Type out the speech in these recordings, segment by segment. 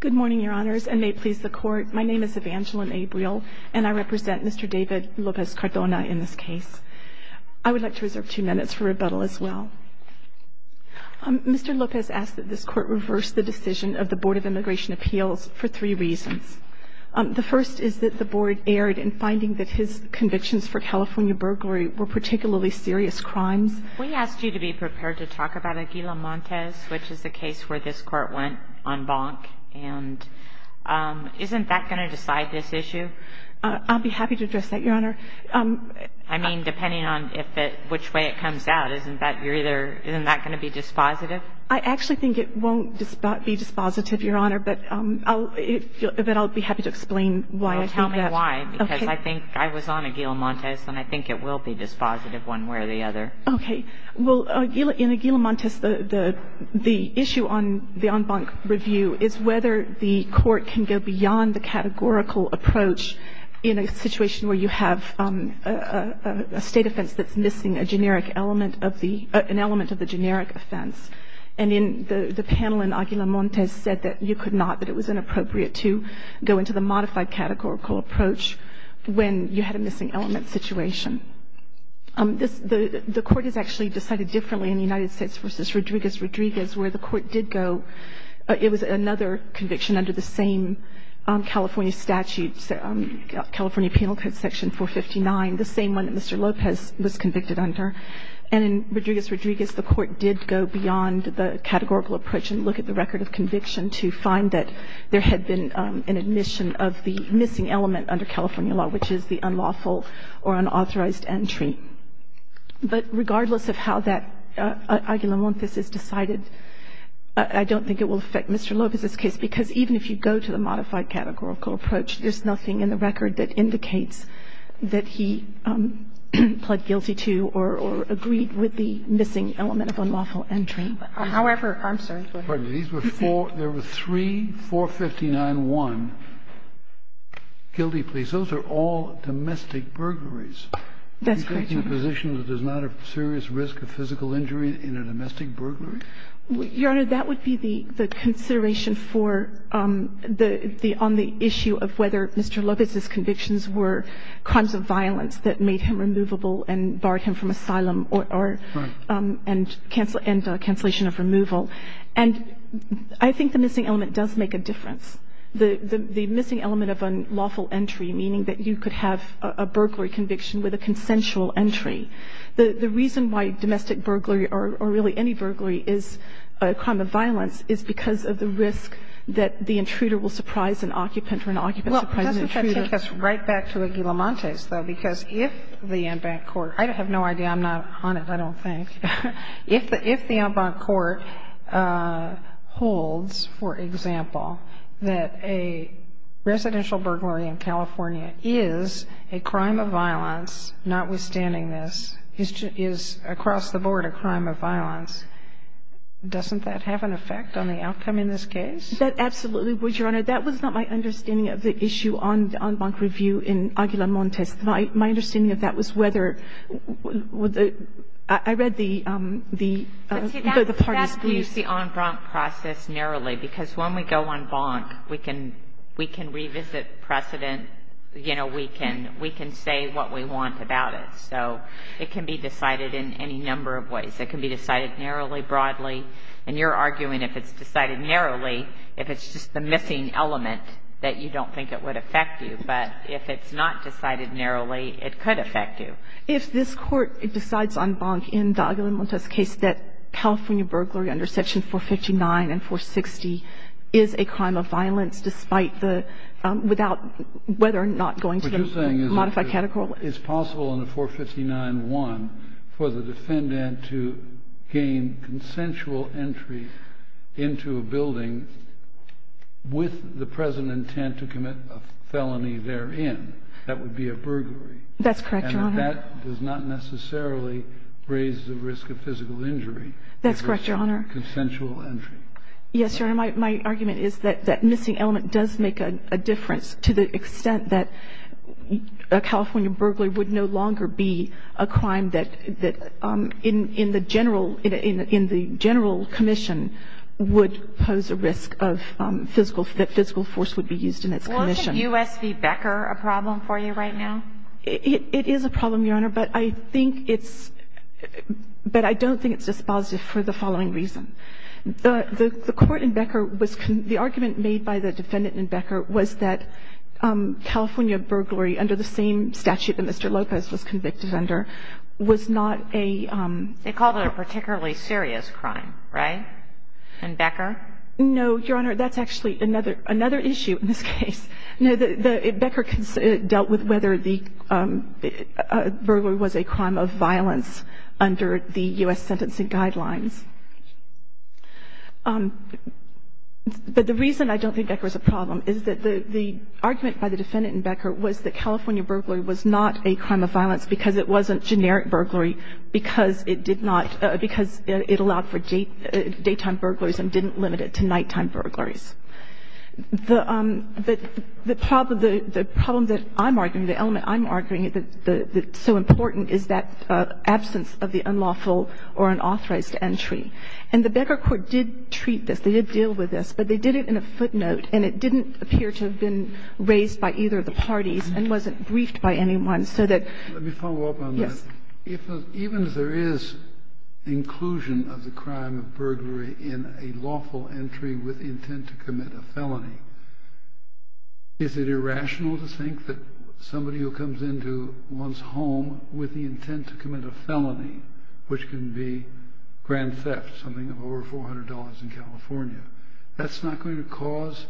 Good morning, Your Honors, and may it please the Court, my name is Evangeline Abriel, and I represent Mr. David Lopez-Cordona in this case. I would like to reserve two minutes for rebuttal as well. Mr. Lopez asked that this Court reverse the decision of the Board of Immigration Appeals for three reasons. The first is that the Board erred in finding that his convictions for California burglary were particularly serious crimes. We asked you to be prepared to talk about Aguila Montes, which is the case where this Court went on bonk. And isn't that going to decide this issue? I'll be happy to address that, Your Honor. I mean, depending on which way it comes out, isn't that going to be dispositive? I actually think it won't be dispositive, Your Honor, but I'll be happy to explain why. Well, tell me why, because I think I was on Aguila Montes, and I think it will be dispositive one way or the other. Okay. Well, in Aguila Montes, the issue on the on-bonk review is whether the Court can go beyond the categorical approach in a situation where you have a State offense that's missing a generic element of the — an element of the generic offense. And in the panel in Aguila Montes said that you could not, that it was inappropriate to go into the modified categorical approach when you had a missing element situation. The Court has actually decided differently in the United States v. Rodriguez-Rodriguez where the Court did go. It was another conviction under the same California statute, California Penal Code Section 459, the same one that Mr. Lopez was convicted under. And in Rodriguez-Rodriguez, the Court did go beyond the categorical approach and look at the record of conviction to find that there had been an admission of the missing element under California law, which is the unlawful or unauthorized entry. But regardless of how that Aguila Montes is decided, I don't think it will affect Mr. Lopez's case, because even if you go to the modified categorical approach, there's nothing in the record that indicates that he pled guilty to or agreed with the missing element of unlawful entry. However, I'm sorry. Go ahead. Kennedy. There were three, 459-1, guilty pleas. Those are all domestic burglaries. That's correct, Your Honor. You're taking a position that there's not a serious risk of physical injury in a domestic burglary? Your Honor, that would be the consideration for the only issue of whether Mr. Lopez's convictions were crimes of violence that made him removable and barred him from asylum and cancellation of removal. And I think the missing element does make a difference. The missing element of unlawful entry, meaning that you could have a burglary conviction with a consensual entry. The reason why domestic burglary or really any burglary is a crime of violence is because of the risk that the intruder will surprise an occupant or an occupant will surprise an intruder. Well, doesn't that take us right back to Aguila Montes, though? Because if the en banc court, I have no idea. I'm not on it, I don't think. If the en banc court holds, for example, that a residential burglary in California is a crime of violence, notwithstanding this, is across the board a crime of violence, doesn't that have an effect on the outcome in this case? That absolutely would, Your Honor. That was not my understanding of the issue on the en banc review in Aguila Montes. My understanding of that was whether the – I read the parties' briefs. That's the en banc process narrowly. Because when we go en banc, we can revisit precedent. You know, we can say what we want about it. So it can be decided in any number of ways. It can be decided narrowly, broadly. And you're arguing if it's decided narrowly, if it's just the missing element, that you don't think it would affect you. But if it's not decided narrowly, it could affect you. If this Court decides en banc in the Aguila Montes case that California burglary under Section 459 and 460 is a crime of violence despite the – without whether or not going to the modified category. But you're saying it's possible in the 459-1 for the defendant to gain consensual entry into a building with the present intent to commit a felony therein. That would be a burglary. That's correct, Your Honor. And that does not necessarily raise the risk of physical injury. That's correct, Your Honor. Consensual entry. Yes, Your Honor. My argument is that that missing element does make a difference to the extent that a California burglary would no longer be a crime that in the general commission would pose a risk of physical – that physical force would be used in its commission. Well, isn't U.S. v. Becker a problem for you right now? It is a problem, Your Honor. But I think it's – but I don't think it's dispositive for the following reason. The court in Becker was – the argument made by the defendant in Becker was that California burglary under the same statute that Mr. Lopez was convicted under was not a – They called it a particularly serious crime, right, in Becker? No, Your Honor. That's actually another issue in this case. No, Becker dealt with whether the burglary was a crime of violence under the U.S. sentencing guidelines. But the reason I don't think Becker is a problem is that the argument by the defendant in Becker was that California burglary was not a crime of violence because it wasn't generic burglary because it did not – because it allowed for daytime burglaries and didn't limit it to nighttime burglaries. The problem that I'm arguing, the element I'm arguing that's so important is that And the Becker court did treat this. They did deal with this. But they did it in a footnote, and it didn't appear to have been raised by either of the parties and wasn't briefed by anyone so that – Let me follow up on that. Yes. Even if there is inclusion of the crime of burglary in a lawful entry with intent to commit a felony, is it irrational to think that somebody who comes into one's home with the intent to commit a felony, which can be grand theft, something of over $400 in California, that's not going to cause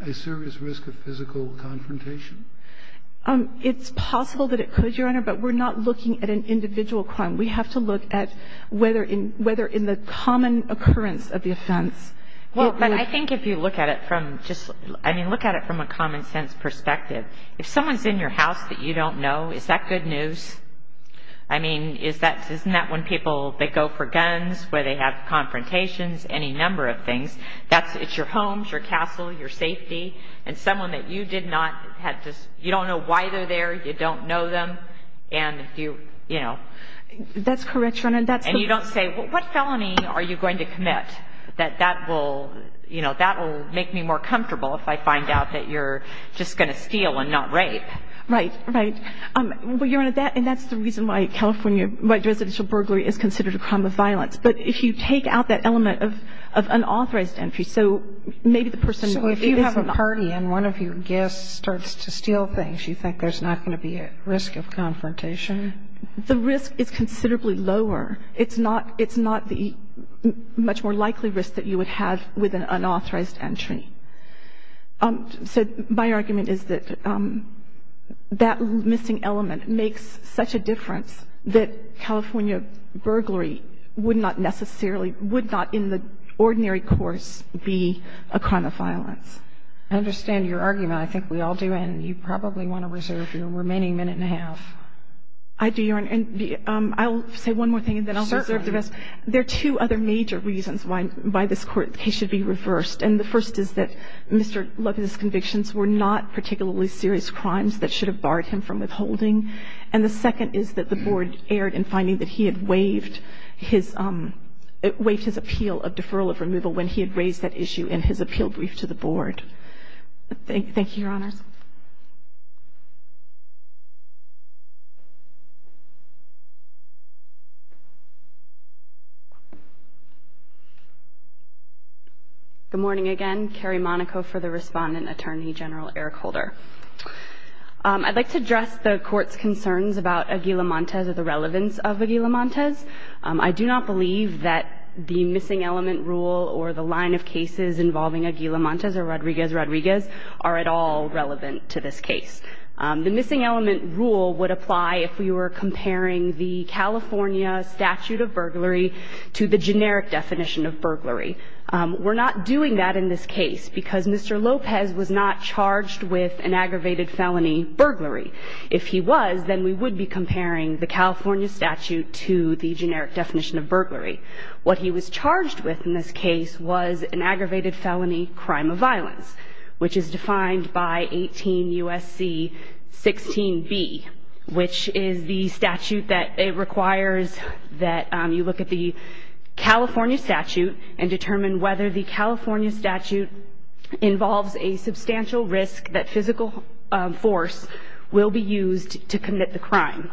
a serious risk of physical confrontation? It's possible that it could, Your Honor, but we're not looking at an individual crime. We have to look at whether in the common occurrence of the offense. Well, but I think if you look at it from just – I mean, look at it from a common sense perspective. If someone's in your house that you don't know, is that good news? I mean, is that – isn't that when people – they go for guns, where they have confrontations, any number of things. That's – it's your home, it's your castle, your safety. And someone that you did not have to – you don't know why they're there, you don't know them, and if you – you know. That's correct, Your Honor. And that's the – And you don't say, what felony are you going to commit, that that will – you know, steal and not rape. Right. Right. Well, Your Honor, that – and that's the reason why California – why residential burglary is considered a crime of violence. But if you take out that element of unauthorized entry, so maybe the person who is not. So if you have a party and one of your guests starts to steal things, you think there's not going to be a risk of confrontation? The risk is considerably lower. It's not – it's not the much more likely risk that you would have with an unauthorized entry. So my argument is that that missing element makes such a difference that California burglary would not necessarily – would not in the ordinary course be a crime of violence. I understand your argument. I think we all do. And you probably want to reserve your remaining minute and a half. I do, Your Honor. And I'll say one more thing and then I'll reserve the rest. Certainly. There are two other major reasons why this case should be reversed. And the first is that Mr. Lovett's convictions were not particularly serious crimes that should have barred him from withholding. And the second is that the Board erred in finding that he had waived his – waived his appeal of deferral of removal when he had raised that issue in his appeal brief to the Board. Thank you, Your Honors. Good morning again. Carrie Monaco for the Respondent, Attorney General Eric Holder. I'd like to address the Court's concerns about Aguila-Montes or the relevance of Aguila-Montes. I do not believe that the missing element rule or the line of cases involving Aguila-Montes or Rodriguez-Rodriguez are at all relevant. The missing element rule would apply if we were comparing the California statute of burglary to the generic definition of burglary. We're not doing that in this case because Mr. Lopez was not charged with an aggravated felony burglary. If he was, then we would be comparing the California statute to the generic definition of burglary. What he was charged with in this case was an aggravated felony crime of violence, which is defined by 18 U.S.C. 16b, which is the statute that requires that you look at the California statute and determine whether the California statute involves a substantial risk that physical force will be used to commit the crime.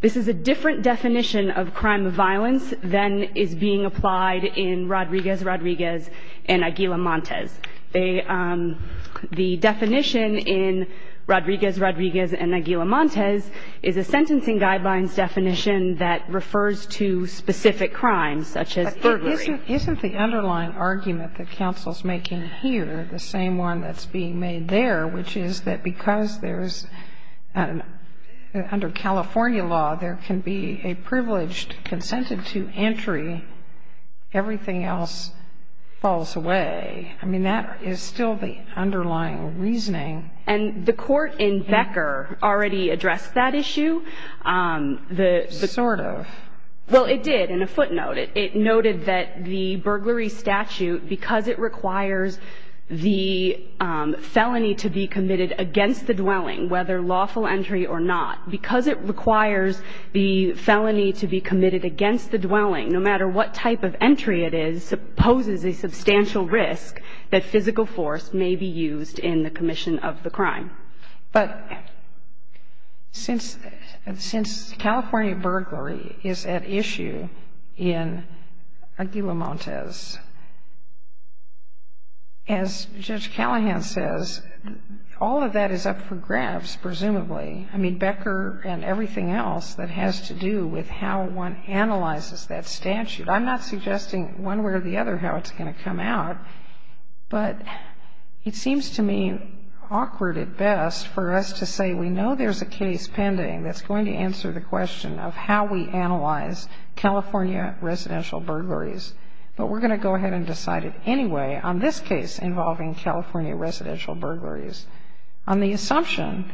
This is a different definition of crime of violence than is being applied in Rodriguez-Rodriguez and Aguila-Montes. They – the definition in Rodriguez-Rodriguez and Aguila-Montes is a sentencing guidelines definition that refers to specific crimes such as burglary. But isn't the underlying argument that counsel's making here the same one that's being made there, which is that because there's – under California law, there can be a privileged consented to entry. Everything else falls away. I mean, that is still the underlying reasoning. And the court in Becker already addressed that issue. Sort of. Well, it did in a footnote. It noted that the burglary statute, because it requires the felony to be committed against the dwelling, whether lawful entry or not, because it requires the felony to be committed against the dwelling, no matter what type of entry it is, poses a risk that physical force may be used in the commission of the crime. But since California burglary is at issue in Aguila-Montes, as Judge Callahan says, all of that is up for grabs, presumably. I mean, Becker and everything else that has to do with how one analyzes that statute. I'm not suggesting one way or the other how it's going to come out. But it seems to me awkward at best for us to say we know there's a case pending that's going to answer the question of how we analyze California residential burglaries, but we're going to go ahead and decide it anyway on this case involving California residential burglaries, on the assumption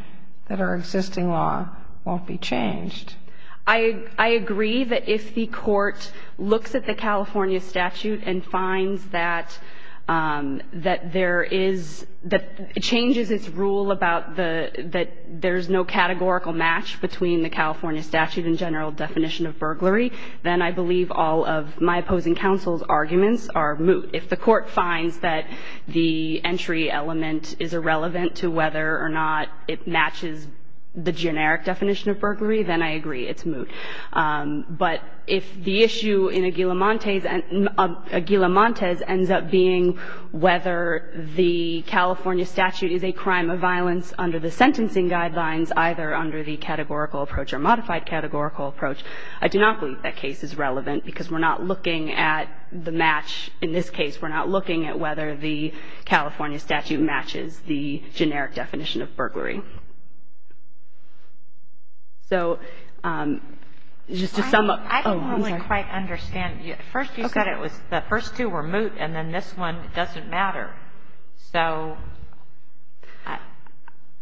that our existing law won't be changed. I agree that if the Court looks at the California statute and finds that there is, that it changes its rule about the, that there's no categorical match between the California statute and general definition of burglary, then I believe all of my opposing counsel's arguments are moot. If the Court finds that the entry element is irrelevant to whether or not it matches the generic definition of burglary, then I agree it's moot. But if the issue in Aguila-Montez ends up being whether the California statute is a crime of violence under the sentencing guidelines, either under the categorical approach or modified categorical approach, I do not believe that case is relevant because we're not looking at the match. In this case, we're not looking at whether the California statute matches the generic definition of burglary. So just to sum up. Oh, I'm sorry. I don't really quite understand. First you said it was the first two were moot, and then this one doesn't matter. So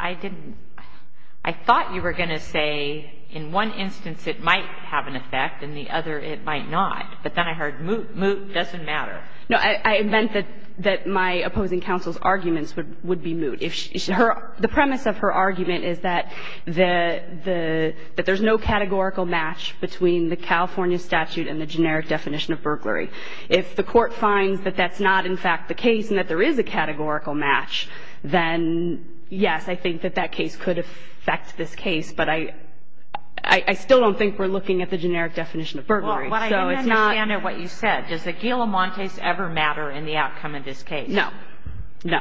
I didn't – I thought you were going to say in one instance it might have an effect and the other it might not. But then I heard moot doesn't matter. No. I meant that my opposing counsel's arguments would be moot. The premise of her argument is that there's no categorical match between the California statute and the generic definition of burglary. If the Court finds that that's not, in fact, the case and that there is a categorical match, then, yes, I think that that case could affect this case. But I still don't think we're looking at the generic definition of burglary. So it's not – Well, what I didn't understand of what you said. Does the Aguila-Montez ever matter in the outcome of this case? No. No.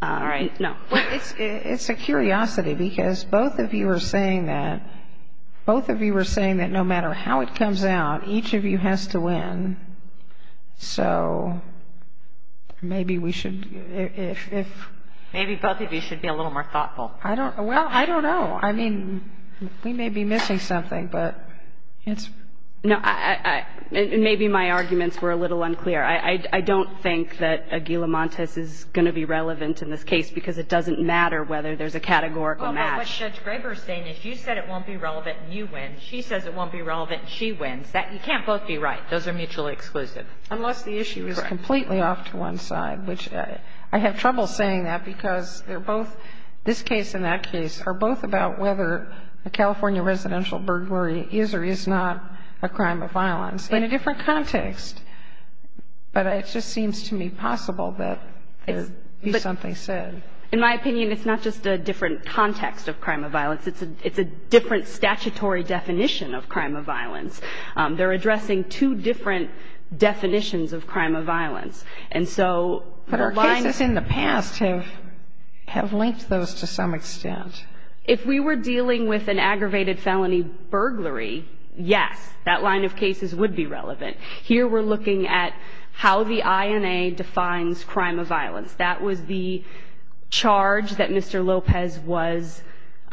All right. No. It's a curiosity because both of you are saying that – both of you are saying that no matter how it comes out, each of you has to win. So maybe we should – if – Maybe both of you should be a little more thoughtful. I don't – well, I don't know. I mean, we may be missing something, but it's – No. Maybe my arguments were a little unclear. I don't think that Aguila-Montez is going to be relevant in this case because it doesn't matter whether there's a categorical match. Well, what Judge Graber is saying is you said it won't be relevant and you win. She says it won't be relevant and she wins. You can't both be right. Those are mutually exclusive. Unless the issue is completely off to one side, which I have trouble saying that because they're both – this case and that case are both about whether a California residential burglary is or is not a crime of violence. In a different context. But it just seems to me possible that there would be something said. In my opinion, it's not just a different context of crime of violence. It's a different statutory definition of crime of violence. They're addressing two different definitions of crime of violence. And so the line – But our cases in the past have linked those to some extent. If we were dealing with an aggravated felony burglary, yes, that line of cases would be relevant. Here we're looking at how the INA defines crime of violence. That was the charge that Mr. Lopez was –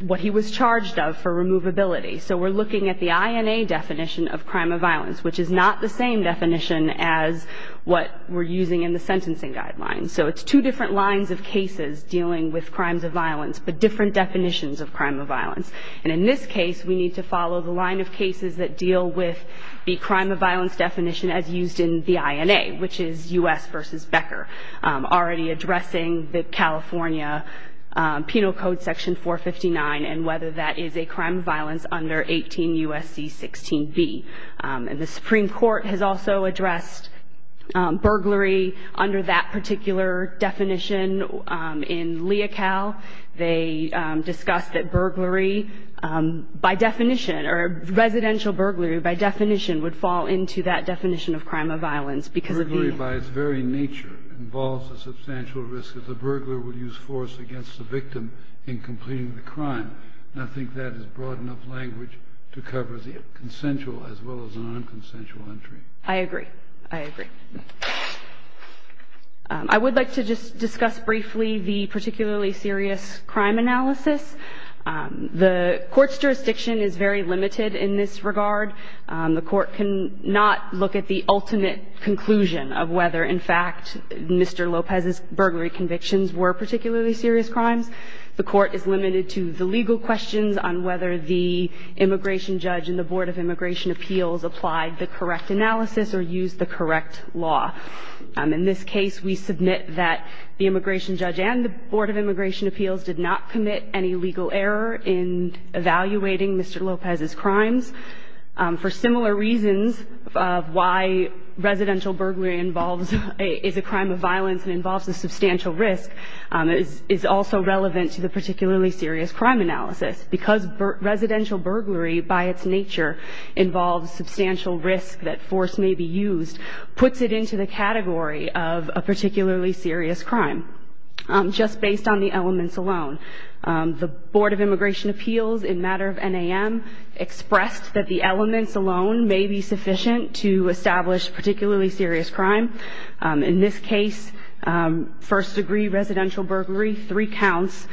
what he was charged of for removability. So we're looking at the INA definition of crime of violence, which is not the same definition as what we're using in the sentencing guidelines. So it's two different lines of cases dealing with crimes of violence, but different definitions of crime of violence. And in this case, we need to follow the line of cases that deal with the crime of violence definition as used in the INA, which is U.S. v. Becker, already addressing the California Penal Code Section 459 and whether that is a crime of violence under 18 U.S.C. 16b. And the Supreme Court has also addressed burglary under that particular definition in Leocal. They discussed that burglary by definition or residential burglary by definition would fall into that definition of crime of violence because of the – Burglary by its very nature involves a substantial risk that the burglar would use force against the victim in completing the crime. And I think that is broad enough language to cover the consensual as well as the nonconsensual entry. I agree. I agree. I would like to just discuss briefly the particularly serious crime analysis. The Court's jurisdiction is very limited in this regard. The Court cannot look at the ultimate conclusion of whether, in fact, Mr. Lopez's burglary convictions were particularly serious crimes. The Court is limited to the legal questions on whether the immigration judge and the Board of Immigration Appeals applied the correct analysis or used the correct law. In this case, we submit that the immigration judge and the Board of Immigration Appeals did not commit any legal error in evaluating Mr. Lopez's crimes. For similar reasons, why residential burglary involves – is a crime of violence and involves a substantial risk is also relevant to the particularly serious crime analysis. Because residential burglary, by its nature, involves substantial risk that force may be used, puts it into the category of a particularly serious crime just based on the elements alone. The Board of Immigration Appeals, in matter of NAM, expressed that the elements alone may be sufficient to establish particularly serious crime. In this case, first-degree residential burglary, three counts,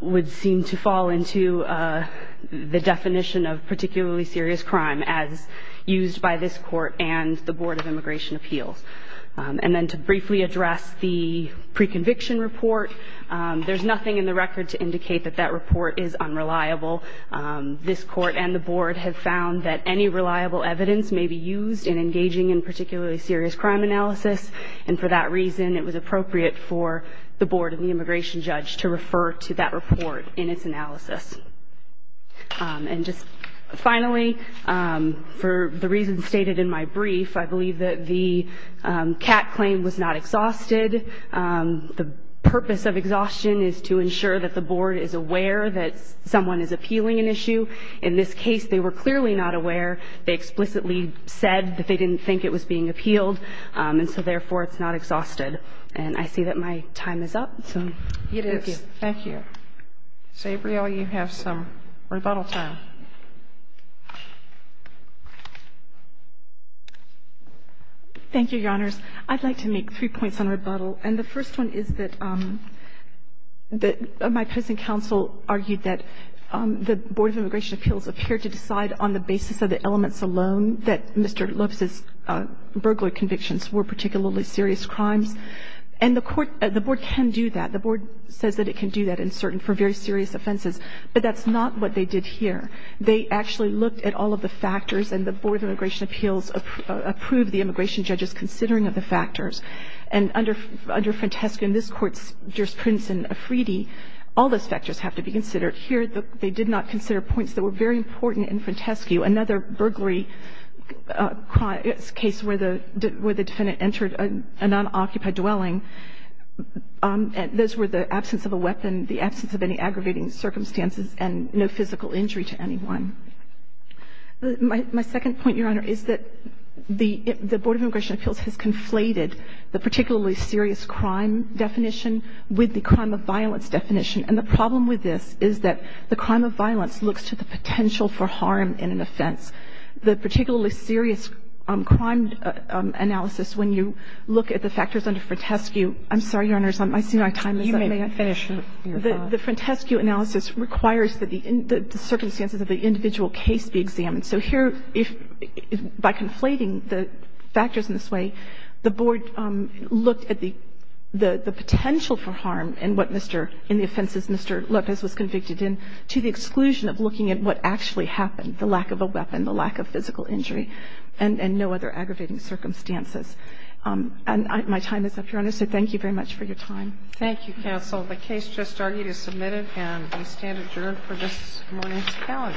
would seem to fall into the definition of particularly serious crime as used by this Court and the Board of Immigration Appeals. And then to briefly address the pre-conviction report, there's nothing in the record to indicate that that report is unreliable. This Court and the Board have found that any reliable evidence may be used in engaging in particularly serious crime analysis, and for that reason it was appropriate for the Board and the immigration judge to refer to that report in its analysis. And just finally, for the reasons stated in my brief, I believe that the CAT claim was not exhausted. The purpose of exhaustion is to ensure that the Board is aware that someone is appealing an issue. In this case, they were clearly not aware. They explicitly said that they didn't think it was being appealed, and so therefore it's not exhausted. And I see that my time is up, so thank you. It is. Thank you. So, Abriella, you have some rebuttal time. Thank you, Your Honors. I'd like to make three points on rebuttal. And the first one is that my present counsel argued that the Board of Immigration did not consider the elements alone that Mr. Lopes's burglar convictions were particularly serious crimes. And the Court – the Board can do that. The Board says that it can do that in certain – for very serious offenses. But that's not what they did here. They actually looked at all of the factors, and the Board of Immigration Appeals approved the immigration judge's considering of the factors. And under Frantescu in this Court's jurisprudence in Afridi, all those factors have to be considered. Here, they did not consider points that were very important in Frantescu. Another burglary case where the defendant entered a nonoccupied dwelling. Those were the absence of a weapon, the absence of any aggravating circumstances, and no physical injury to anyone. My second point, Your Honor, is that the Board of Immigration Appeals has conflated the particularly serious crime definition with the crime of violence definition. And the problem with this is that the crime of violence looks to the potential for harm in an offense. The particularly serious crime analysis, when you look at the factors under Frantescu – I'm sorry, Your Honors, I see my time is up. May I finish? The Frantescu analysis requires that the circumstances of the individual case be examined. So here, by conflating the factors in this way, the Board looked at the potential for harm in the offenses Mr. Lopez was convicted in to the exclusion of looking at what actually happened, the lack of a weapon, the lack of physical injury, and no other aggravating circumstances. And my time is up, Your Honor, so thank you very much for your time. Thank you, counsel. The case just argued is submitted, and we stand adjourned for this morning's hearing. Thank you, counsel.